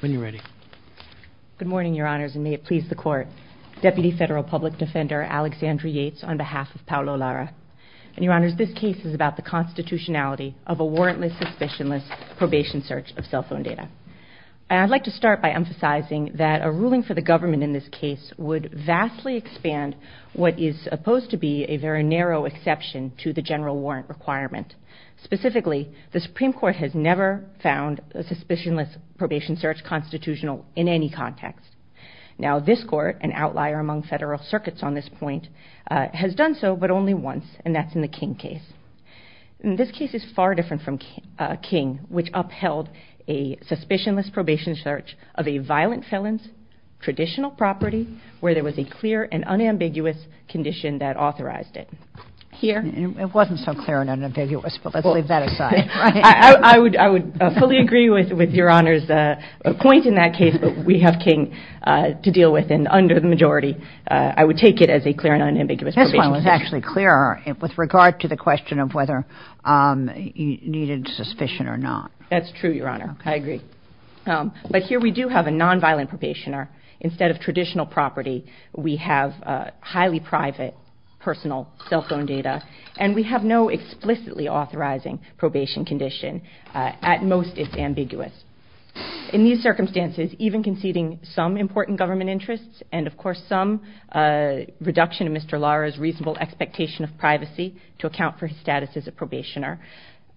When you're ready. Good morning, your honors, and may it please the court. Deputy Federal Public Defender Alexandria Yates on behalf of Paulo Lara. And your honors, this case is about the constitutionality of a warrantless, suspicionless probation search of cell phone data. And I'd like to start by emphasizing that a ruling for the government in this case would vastly expand what is supposed to be a very narrow exception to the general warrant requirement. Specifically, the Supreme Court has never found a suspicionless probation search constitutional in any context. Now, this court, an outlier among federal circuits on this point, has done so, but only once, and that's in the King case. And this case is far different from King, which upheld a suspicionless probation search of a violent felon's traditional property where there was a clear and unambiguous condition that authorized it. Here... I fully agree with your honors' point in that case, but we have King to deal with, and under the majority, I would take it as a clear and unambiguous probation search. That's true, your honor. I agree. But here we do have a nonviolent probationer. Instead of traditional property, we have highly private, personal cell phone data, and we have no explicitly authorizing probation condition. At most, it's ambiguous. In these circumstances, even conceding some important government interests, and of course some reduction in Mr. Lara's reasonable expectation of privacy to account for his status as a probationer,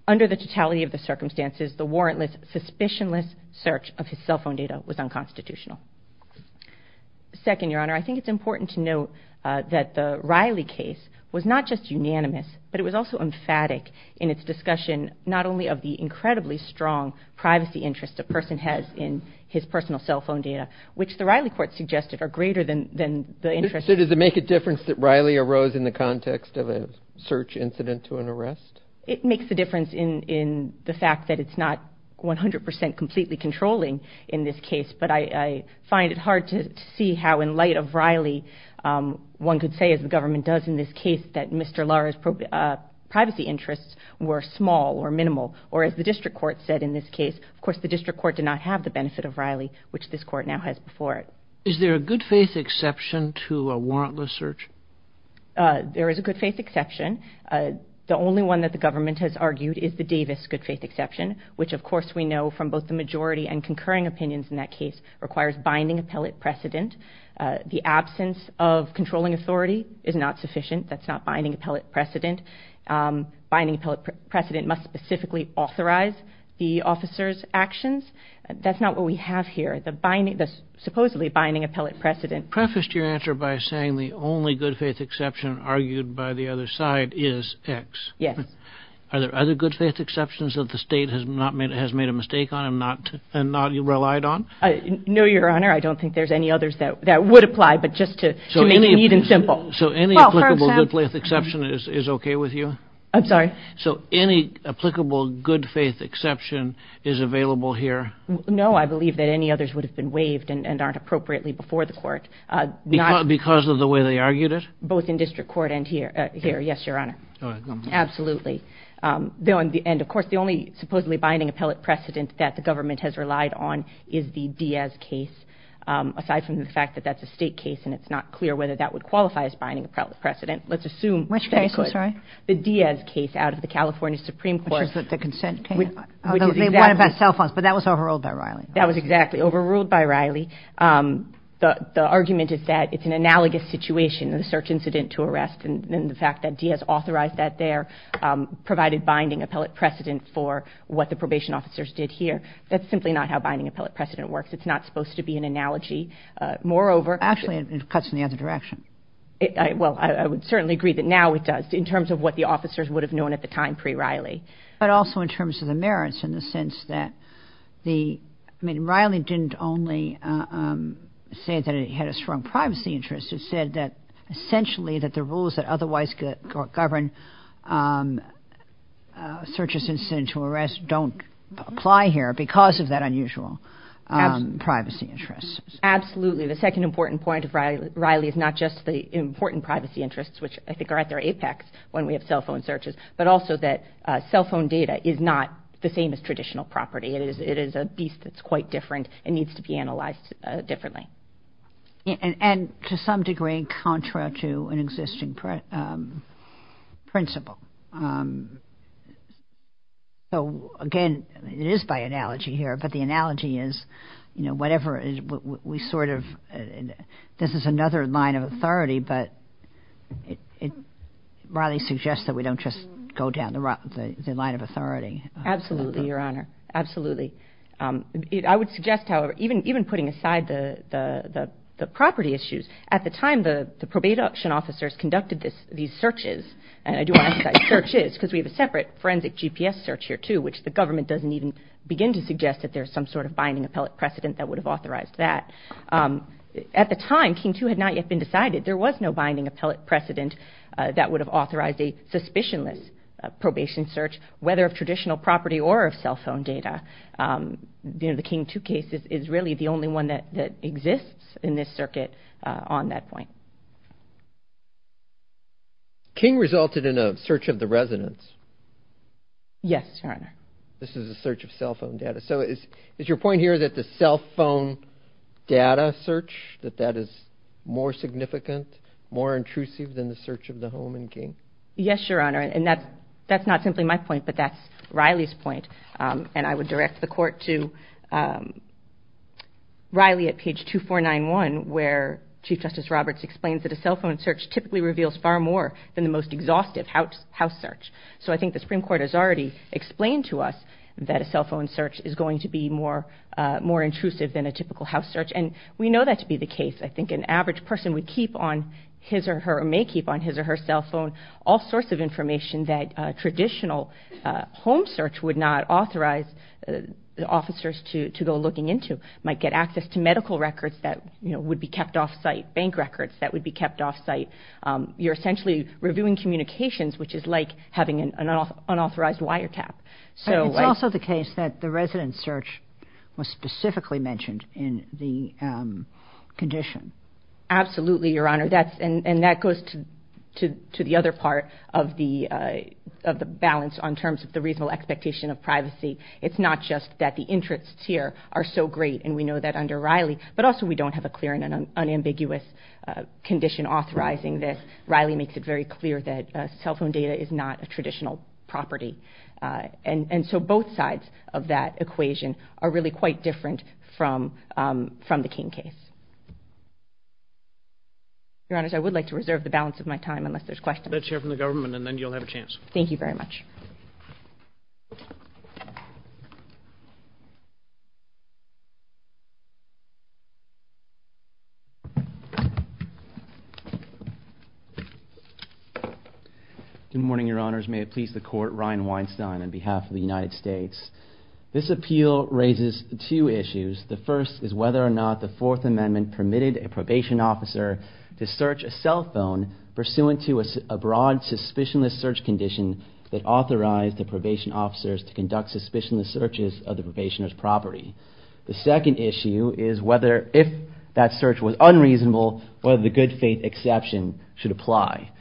under the totality of the circumstances, the warrantless, suspicionless search of his cell phone data was unconstitutional. Second, your honor, I think it's important to note that the Riley case was not just unanimous, but it was a unanimous discussion, not only of the incredibly strong privacy interests a person has in his personal cell phone data, which the Riley court suggested are greater than the interest... So does it make a difference that Riley arose in the context of a search incident to an arrest? It makes a difference in the fact that it's not 100% completely controlling in this case, but I find it hard to see how, in light of Riley, one could say, as the government does in this case, that Mr. Lara's privacy interests were small or minimal, or as the district court said in this case, of course the district court did not have the benefit of Riley, which this court now has before it. Is there a good faith exception to a warrantless search? There is a good faith exception. The only one that the government has argued is the Davis good faith exception, which of course we know from both the majority and concurring opinions in that case, requires binding appellate precedent. The absence of controlling authority is not sufficient. That's not binding appellate precedent must specifically authorize the officer's actions. That's not what we have here. The supposedly binding appellate precedent... You prefaced your answer by saying the only good faith exception argued by the other side is X. Yes. Are there other good faith exceptions that the state has made a mistake on and not relied on? No, your honor. I don't think there's any others that would apply, but just to make it neat and simple. So any applicable good faith exception is okay with you? I'm sorry? So any applicable good faith exception is available here? No, I believe that any others would have been waived and aren't appropriately before the court. Because of the way they argued it? Both in district court and here. Yes, your honor. Absolutely. And of course the only supposedly binding appellate precedent that the government has relied on is the Diaz case. Aside from the fact that that's a state case and it's not clear whether that would qualify as binding appellate precedent, let's assume... Which case? I'm sorry? The Diaz case out of the California Supreme Court. Which is the consent case? They won it by cell phones, but that was overruled by Riley. That was exactly overruled by Riley. The argument is that it's an analogous situation, the search incident to arrest and the fact that Diaz authorized that there, provided binding appellate precedent for what the probation officers did here. That's simply not how binding appellate precedent works. It's not supposed to be an analogy. Moreover... Actually, it cuts in the other direction. Well, I would certainly agree that now it does in terms of what the officers would have known at the time pre-Riley. But also in terms of the merits in the sense that the... I mean, Riley didn't only say that it had a strong privacy interest. It said that essentially that the rules that otherwise govern search incident to arrest don't apply here because of that unusual privacy interest. Absolutely. The second important point of Riley is not just the important privacy interests, which I think are at their apex when we have cell phone searches, but also that cell phone data is not the same as traditional property. It is a beast that's quite different and needs to be analyzed differently. And to some degree in contra to an existing principle. So again, it is by analogy here, but the analogy is, you know, whatever we sort of... This is another line of authority, but Riley suggests that we don't just go down the line of authority. Absolutely, Your Honor. Absolutely. I would suggest, however, even putting aside the property issues, at the time the probate auction officers conducted these searches, and I do want to say searches because we have a separate forensic GPS search here too, which the government doesn't even begin to suggest that there's some sort of binding appellate precedent that would have authorized that. At the time, King 2 had not yet been decided. There was no binding appellate precedent that would have authorized a suspicionless probation search, whether of traditional property or of cell phone data. The King 2 case is really the only one that exists in this circuit on that point. King resulted in a search of the residence. Yes, Your Honor. This is a search of cell phone data. So is your point here that the cell phone data search, that that is more significant, more intrusive than the search of the home in King? Yes, Your Honor. And that's not simply my point, but that's Riley's point. And I would direct the Court to Riley at page 2491, where Chief Justice Roberts explains that a cell phone search typically reveals far more than the most exhaustive house search. So I think the Supreme Court has already explained to us that a cell phone search is going to be more intrusive than a typical house search. And we know that to be the case. I think an average person would keep on his or her, or may keep on his or her cell phone, all sorts of information that traditional home search would not authorize officers to go looking into. Might get access to medical records that would be kept off-site, bank records that would be kept off-site. You're essentially reviewing communications, which is like having an unauthorized wiretap. It's also the case that the residence search was specifically mentioned in the condition. Absolutely, Your Honor. And that goes to the other part of the balance in terms of the reasonable expectation of privacy. It's not just that the interests here are so great, and we know that under Riley. But also we don't have a clear and unambiguous condition authorizing this. Riley makes it very clear that cell phone data is not a traditional property. And so both sides of that equation are really quite different from the King case. Your Honors, I would like to reserve the balance of my time unless there's questions. Let's hear from the government and then you'll have a chance. Thank you very much. Good morning, Your Honors. May it please the Court. Ryan Weinstein on behalf of the United States. This appeal raises two issues. The first is whether or not the Fourth Amendment permitted a probation officer to search a cell phone pursuant to a broad suspicionless search condition that authorized the probation officers to conduct suspicionless searches of the probationer's property. The second issue is whether, if that search was unreasonable, whether the good faith exception should apply.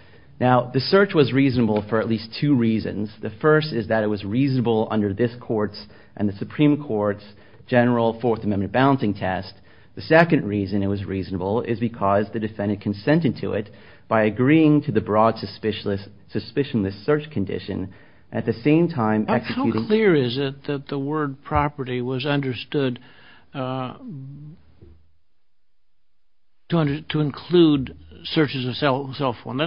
Now, the search was reasonable for at least two reasons. The first is that it was reasonable under this Court's and the Supreme Court's general Fourth Amendment balancing test. The second reason it was reasonable is because the defendant consented to it by agreeing to the broad suspicionless search condition at the same time executing... How clear is it that the word property was understood to include searches of cell phone?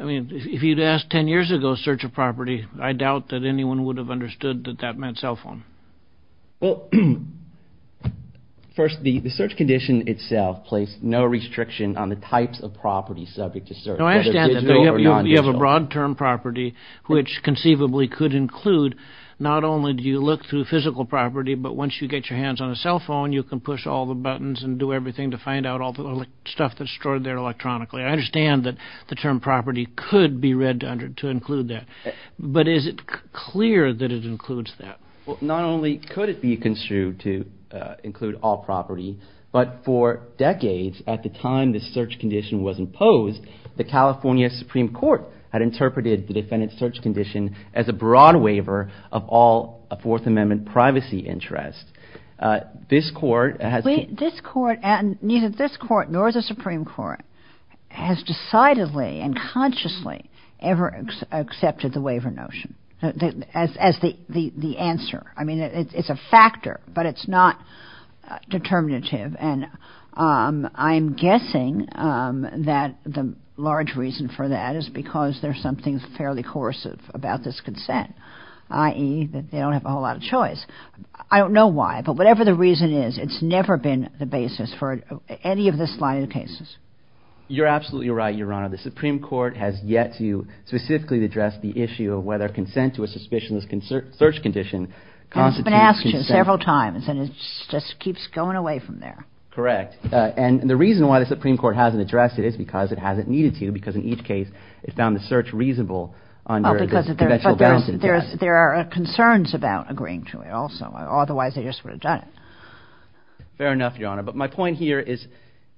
I mean, if you'd asked ten years ago search of property, I doubt that anyone would have understood that that meant cell phone. First, the search condition itself placed no restriction on the types of property subject to search. You have a broad term property which conceivably could include not only do you look through physical property, but once you get your hands on a cell phone, you can push all the buttons and do everything to find out all the stuff that's stored there electronically. I understand that the term property could be read to include that, but is it clear that it includes that? Not only could it be construed to include all property, but for decades at the time the search condition was imposed, the California Supreme Court had interpreted the defendant's search condition as a broad waiver of all Fifth Amendment privacy interests. Neither this Court nor the Supreme Court has decidedly and consciously ever accepted the waiver notion as the answer. I mean, it's a factor, but it's not determinative, and I'm guessing that the large reason for that is because there's something fairly coercive about this consent, i.e. that they don't have a whole lot of choice. I don't know why, but whatever the reason is, it's never been the basis for any of this line of cases. You're absolutely right, Your Honor. The Supreme Court has yet to specifically address the issue of whether consent to a suspicionless search condition constitutes consent. It's been asked several times, and it just keeps going away from there. Correct. And the reason why the Supreme Court hasn't addressed it is because it hasn't needed to, because in each case it found the search reasonable under this conventional balance of interests. But there are concerns about agreeing to it also. Otherwise, they just would have done it. Fair enough, Your Honor. But my point here is,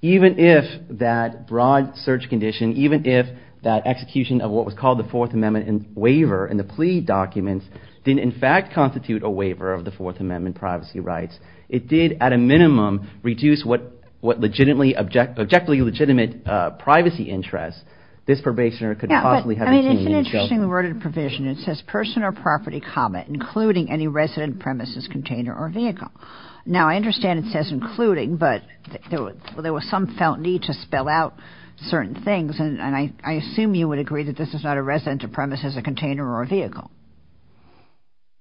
even if that broad search condition, even if that execution of what was called the Fourth Amendment waiver in the plea documents didn't in fact constitute a waiver of the Fourth Amendment privacy rights, it did, at a minimum, reduce what objectively legitimate privacy interests this probationer could possibly have obtained. It's an interesting worded provision. It says, person or property, including any resident premises, container, or vehicle. Now, I understand it says including, but there was some felt need to spell out certain things, and I assume you would agree that this is not a resident premises, a container, or a vehicle.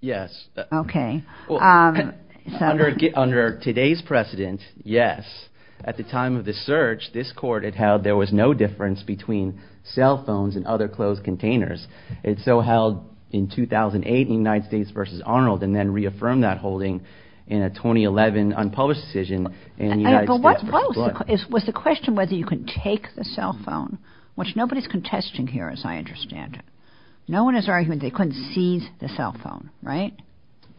Yes. Okay. Under today's precedent, yes. At the time of the search, this Court had held there was no claim to cell phones in other closed containers. It so held in 2008 in United States v. Arnold, and then reaffirmed that holding in a 2011 unpublished decision in United States v. Blunt. Was the question whether you can take the cell phone, which nobody's contesting here as I understand it. No one has an argument they couldn't seize the cell phone, right?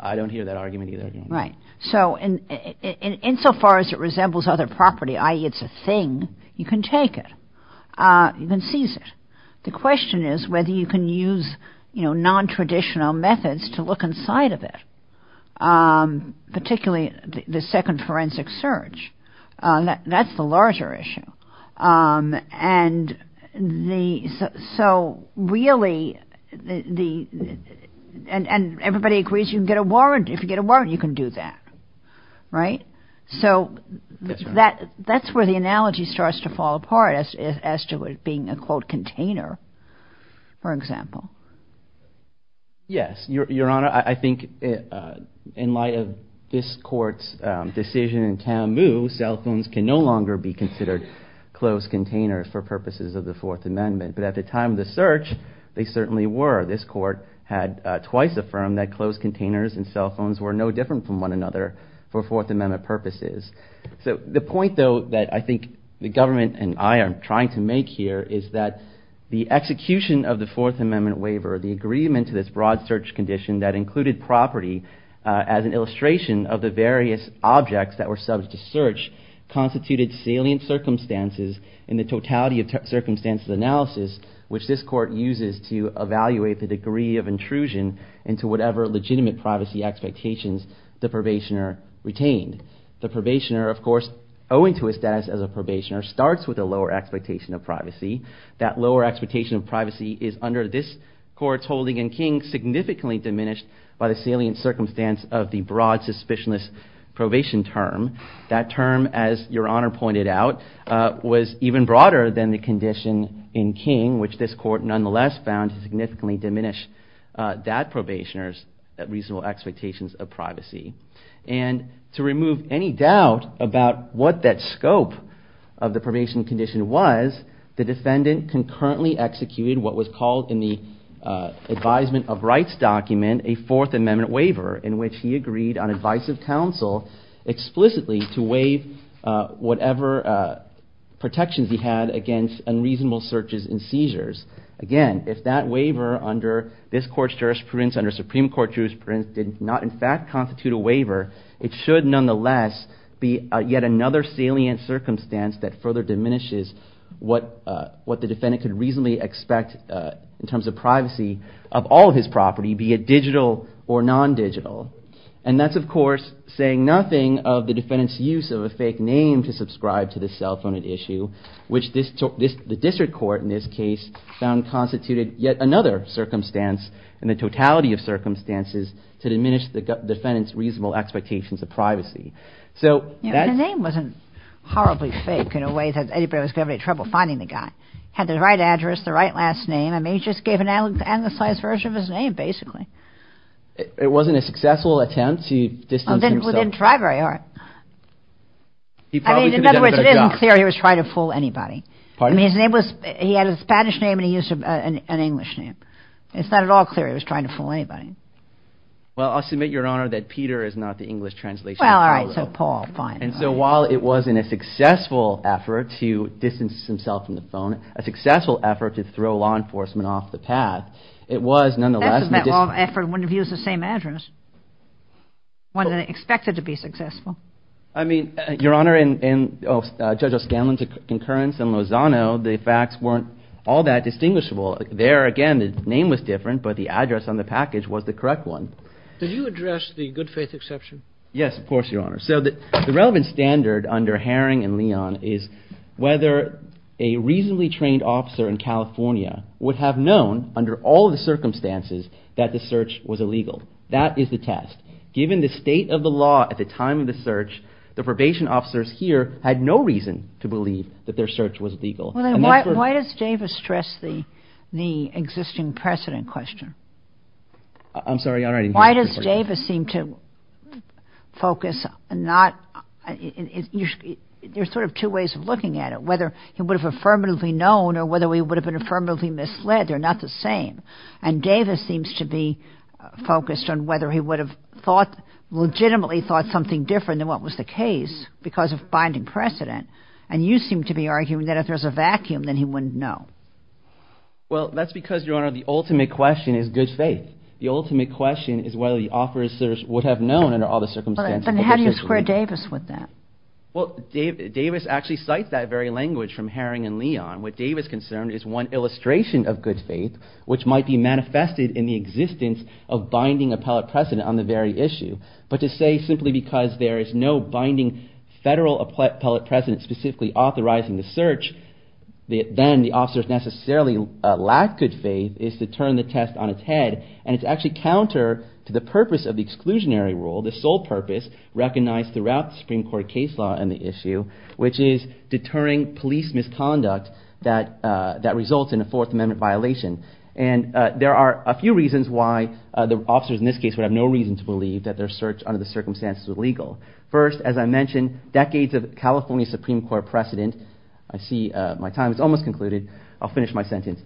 I don't hear that argument either. Right. So, insofar as it resembles other property, i.e. it's a thing, you can take it. You can seize it. The question is whether you can use non-traditional methods to look inside of it, particularly the second forensic search. That's the larger issue. And the, so really the, and everybody agrees you can get a warrant. If you get a warrant, you can do that. Right? So, that's where the question is as to it being a, quote, container, for example. Yes. Your Honor, I think in light of this Court's decision in Camus, cell phones can no longer be considered closed containers for purposes of the Fourth Amendment. But at the time of the search, they certainly were. This Court had twice affirmed that closed containers and cell phones were no different from one another for Fourth Amendment purposes. So, the point though that I think the government and I are trying to make here is that the execution of the Fourth Amendment waiver, the agreement to this broad search condition that included property as an illustration of the various objects that were subject to search, constituted salient circumstances in the totality of circumstances analysis which this Court uses to evaluate the degree of intrusion into whatever legitimate privacy expectations the probationer retained. The probationer, of course, owing to his status as a probationer, starts with a lower expectation of privacy. That lower expectation of privacy is under this Court's holding in King significantly diminished by the salient circumstance of the broad suspicionless probation term. That term, as Your Honor pointed out, was even broader than the condition in King which this Court nonetheless found to significantly diminish that probationer's reasonable expectations of privacy. And to remove any doubt about what that scope of the probation condition was, the defendant concurrently executed what was called in the advisement of rights document a Fourth Amendment waiver in which he agreed on advice of counsel explicitly to waive whatever protections he had against unreasonable searches and seizures. Again, if that waiver under this Court's jurisprudence, under Supreme Court jurisprudence, did not in favor, it should nonetheless be yet another salient circumstance that further diminishes what the defendant could reasonably expect in terms of privacy of all of his property, be it digital or non-digital. And that's, of course, saying nothing of the defendant's use of a fake name to subscribe to the cell phone at issue which the District Court in this case found constituted yet another circumstance in the totality of circumstances to diminish the defendant's reasonable expectations of privacy. The name wasn't horribly fake in a way that anybody was going to have trouble finding the guy. He had the right address, the right last name. I mean, he just gave an analyzed version of his name, basically. It wasn't a successful attempt to distance himself. Well, he didn't try very hard. I mean, in other words, it isn't clear he was trying to fool anybody. Pardon? I mean, his name was, he had a Spanish name and he used an English name. It's not at all clear he was trying to fool anybody. Well, I'll submit, Your Honor, that Peter is not the English translation. Well, all right, so Paul, fine. And so while it wasn't a successful effort to distance himself from the phone, a successful effort to throw law enforcement off the path, it was nonetheless... That's because all effort wouldn't have used the same address. One didn't expect it to be successful. I mean, Your Honor, in Judge O'Scanlan's concurrence in Lozano, the facts weren't all that distinguishable. There, again, the name was different, but the address on the package was the correct one. Did you address the good faith exception? Yes, of course, Your Honor. So the relevant standard under Herring and Leon is whether a reasonably trained officer in California would have known, under all the circumstances, that the search was illegal. That is the test. Given the state of the law at the time of the search, the probation officers here had no reason to believe that their search was legal. Well, then why does Davis stress the existing precedent question? I'm sorry, Your Honor. Why does Davis seem to focus not... There's sort of two ways of looking at it, whether he would have affirmatively known or whether he would have been affirmatively misled. They're not the same. And Davis seems to be focused on whether he would have thought, legitimately thought something different than what was the case because of binding precedent. And you seem to be arguing that if there's a vacuum, then he wouldn't know. Well, that's because, Your Honor, the ultimate question is good faith. The ultimate question is whether the officers would have known under all the circumstances. Then how do you square Davis with that? Well, Davis actually cites that very language from Herring and Leon. What Davis concerned is one illustration of good faith, which might be manifested in the existence of binding appellate precedent on the very issue. But to say simply because there is no binding federal appellate precedent specifically authorizing the search, then the officers necessarily lack good faith is to turn the test on its head. And it's actually counter to the purpose of the exclusionary rule, the sole purpose recognized throughout the Supreme Court case law and the issue, which is deterring police misconduct that results in a Fourth Amendment violation. And there are a few reasons why the officers in this case would have no reason to believe that their search under the circumstances was legal. First, as I mentioned, decades of California Supreme Court precedent I see my time is almost concluded. I'll finish my sentence.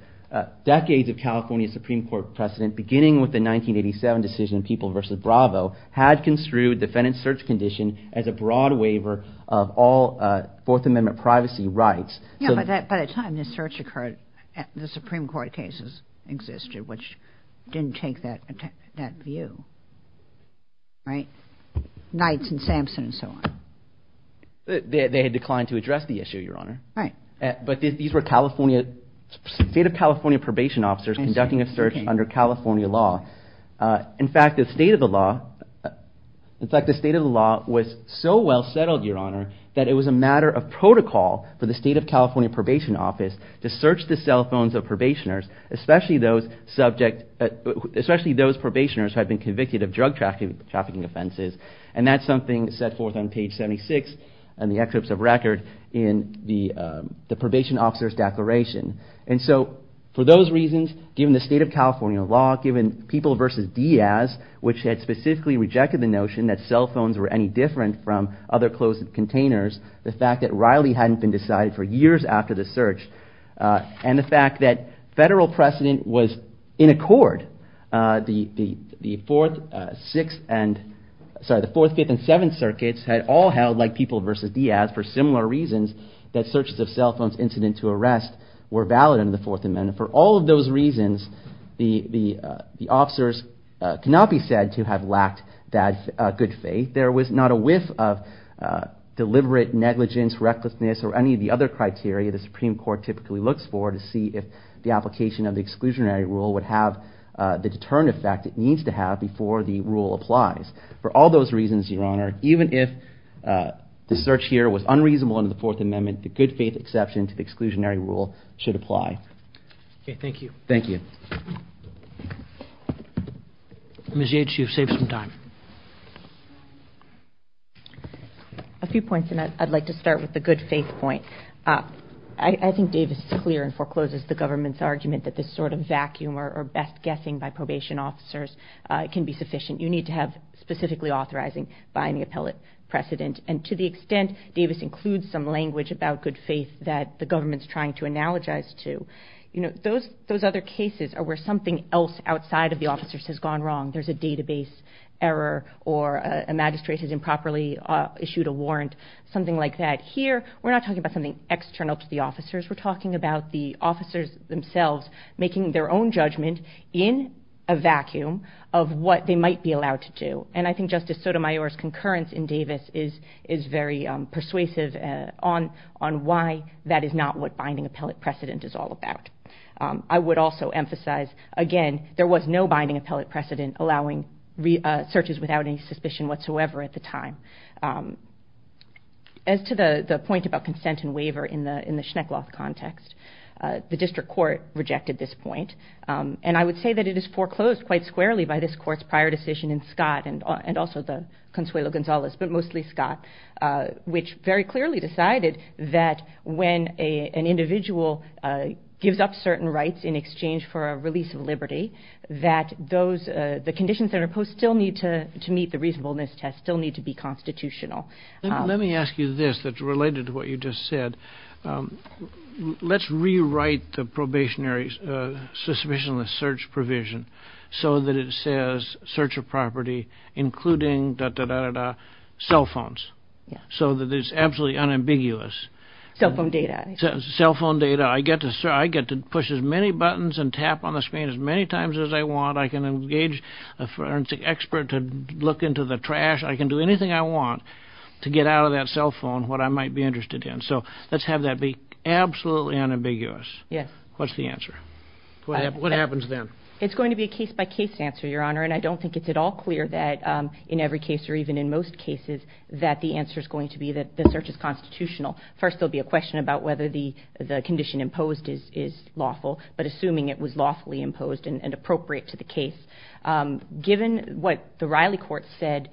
Decades of California Supreme Court precedent, beginning with the 1987 decision in People v. Bravo, had construed defendant's search condition as a broad waiver of all Fourth Amendment privacy rights. Yeah, but by the time this search occurred, the Supreme Court cases existed, which didn't take that view. Nights and Sampson and so on. They had declined to address the issue, Your Honor. But these were State of California probation officers conducting a search under California law. In fact, the state of the law was so well settled, Your Honor, that it was a matter of protocol for the State of California Probation Office to search the cell phones of probationers, especially those probationers who had been convicted of drug trafficking offenses. And that's something set forth on page 76 in the excerpts of record in the probation officer's declaration. And so, for those reasons, given the State of California law, given People v. Diaz, which had specifically rejected the notion that cell phones were any different from other closed containers, the fact that Riley hadn't been decided for years after the search, and the fact that federal precedent was in accord, the 4th, 6th, and sorry, the 4th, 5th, and 7th circuits had all held like People v. Diaz for similar reasons that searches of cell phones incident to arrest were valid under the Fourth Amendment. For all of those reasons, the officers cannot be said to have lacked that good faith. There was not a whiff of deliberate negligence, recklessness, or any of the other criteria the Supreme Court typically looks for to see if the application of the exclusionary rule would have the determined effect it needs to have before the rule applies. For all those reasons, Your Honor, even if the search here was unreasonable under the Fourth Amendment, the good faith exception to the exclusionary rule should apply. Okay, thank you. Thank you. Ms. Yates, you've saved some time. A few points, and I'd like to start with the good faith point. I think Davis is clear and forecloses the government's argument that this sort of vacuum or best guessing by probation officers can be sufficient. You need to have specifically authorizing by any appellate precedent, and to the extent Davis includes some language about good faith that the government's trying to analogize to, those other cases are where something else outside of the officers has gone wrong. There's a database error or a magistrate has improperly issued a warrant, something like that. Here, we're not talking about something external to the officers. We're talking about the officers themselves making their own judgment in a vacuum of what they might be allowed to do. And I think Justice Sotomayor's concurrence in Davis is very persuasive on why that is not what binding appellate precedent is all about. I would also emphasize, again, there was no binding appellate precedent allowing searches without any suspicion whatsoever at the time. As to the point about consent and waiver in the Schneckloth context, the district court rejected this point, and I would say that it is foreclosed quite squarely by this court's prior decision in Scott, and also the Consuelo Gonzalez, but mostly Scott, which very clearly decided that when an individual gives up certain rights in exchange for a release of liberty, that the conditions that are imposed still need to be constitutional. Let's rewrite the probationary suspicionless search provision so that it says search of property including cell phones so that it's absolutely unambiguous. Cell phone data. I get to push as many buttons and tap on the screen as many times as I want. I can engage a forensic expert to look into the trash. I can do anything I want to get out of that cell phone what I might be interested in. So let's have that be absolutely unambiguous. What's the answer? What happens then? It's going to be a case-by-case answer, Your Honor, and I don't think it's at all clear that in every case or even in most cases that the answer's going to be that the search is constitutional. First, there'll be a question about whether the condition imposed is lawful, but assuming it was lawfully imposed and appropriate to the case. Given what the Riley Court said,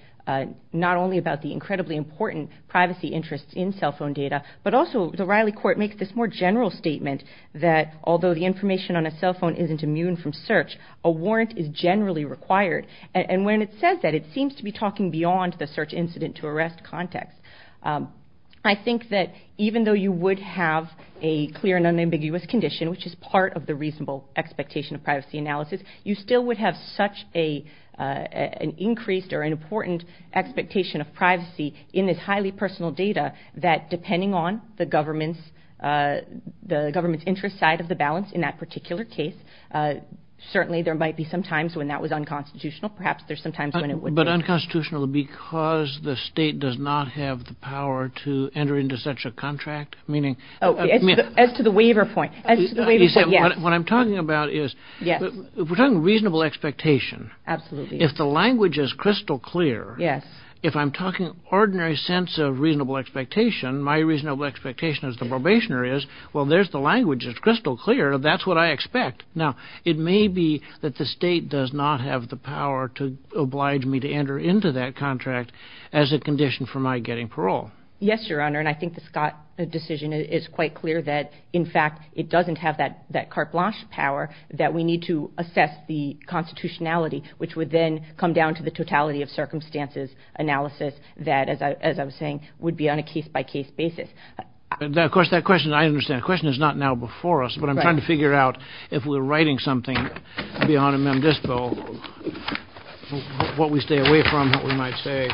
not only about the incredibly important privacy interests in cell phone data, but also the Riley Court makes this more general statement that although the information on a cell phone isn't immune from search, a warrant is generally required. And when it says that, it seems to be talking beyond the search incident to arrest context. I think that even though you would have a clear and unambiguous condition, which is part of the reasonable expectation of privacy analysis, you still would have such an increased or an important expectation of privacy in this highly personal data that depending on the government's interest side of the balance in that particular case, certainly there might be some times when that was unconstitutional. Perhaps there's some times when it would be. But unconstitutional because the state does not have the power to enter into such a contract? As to the waiver point, yes. What I'm talking about is, we're talking reasonable expectation. If the language is crystal clear, if I'm talking ordinary sense of reasonable expectation, my reasonable expectation as the probationer is, well, there's the language, it's crystal clear, that's what I expect. Now, it may be that the state does not have the power to oblige me to enter into that contract as a condition for my getting parole. Yes, Your Honor, and I think the Scott decision is quite clear that in fact, it doesn't have that carte blanche power that we need to assess the constitutionality, which would then come down to the totality of circumstances analysis that, as I was saying, would be on a case-by-case basis. Of course, that question, I understand, the question is not now before us, but I'm trying to figure out if we're writing something beyond a mem dispo, what we stay away from, what we might say.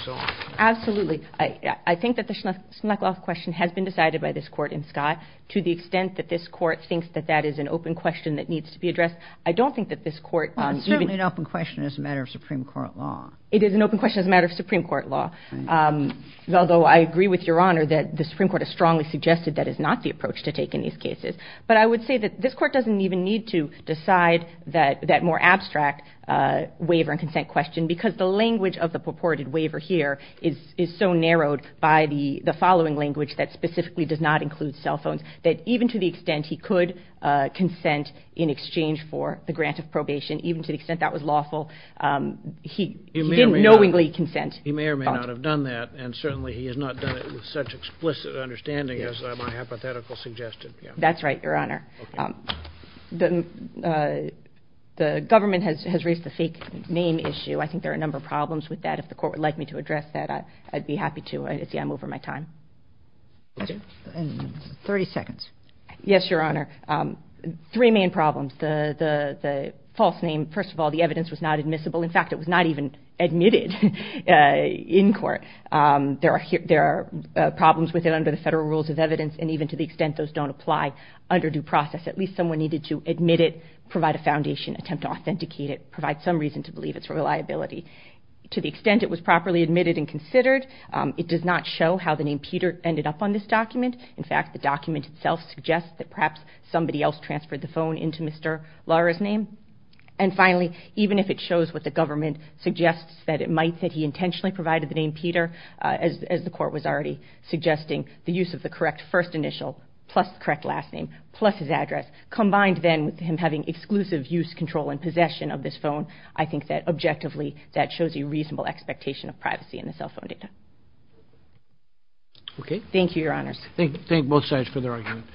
Absolutely. I think that the Schmuckloff question has been decided by this Court in Scott. To the extent that this Court thinks that that is an open question that needs to be addressed, I don't think that this Court... Well, it's certainly an open question as a matter of Supreme Court law. It is an open question as a matter of Supreme Court law, although I agree with Your Honor that the Supreme Court has strongly suggested that is not the approach to take in these cases. But I would say that this Court doesn't even need to decide that more abstract waiver and consent question, because the language of the purported waiver here is so narrowed by the following language that specifically does not include cell phones, that even to the extent he could consent in exchange for the grant of probation, even to the extent that was lawful, he didn't knowingly consent. He may or may not have done that, and certainly he has not done it with such explicit understanding as my hypothetical suggested. That's right, Your Honor. The government has raised the fake name issue. I think there are a number of problems with that. If the Court would like me to address that, I'd be happy to. I see I'm over my time. 30 seconds. Yes, Your Honor. Three main problems. The false name. First of all, the evidence was not admissible. In fact, it was not even admitted in court. There are problems with it under the federal rules of evidence, and even to the process, at least someone needed to admit it, provide a foundation, attempt to authenticate it, provide some reason to believe its reliability. To the extent it was properly admitted and considered, it does not show how the name Peter ended up on this document. In fact, the document itself suggests that perhaps somebody else transferred the phone into Mr. Lara's name. And finally, even if it shows what the government suggests that it might, that he intentionally provided the name Peter, as the Court was already suggesting, the use of the correct first initial plus the correct last name, plus his address, combined then with him having exclusive use, control, and possession of this phone, I think that objectively that shows a reasonable expectation of privacy in the cell phone data. Thank you, Your Honors. Thank both sides for their argument.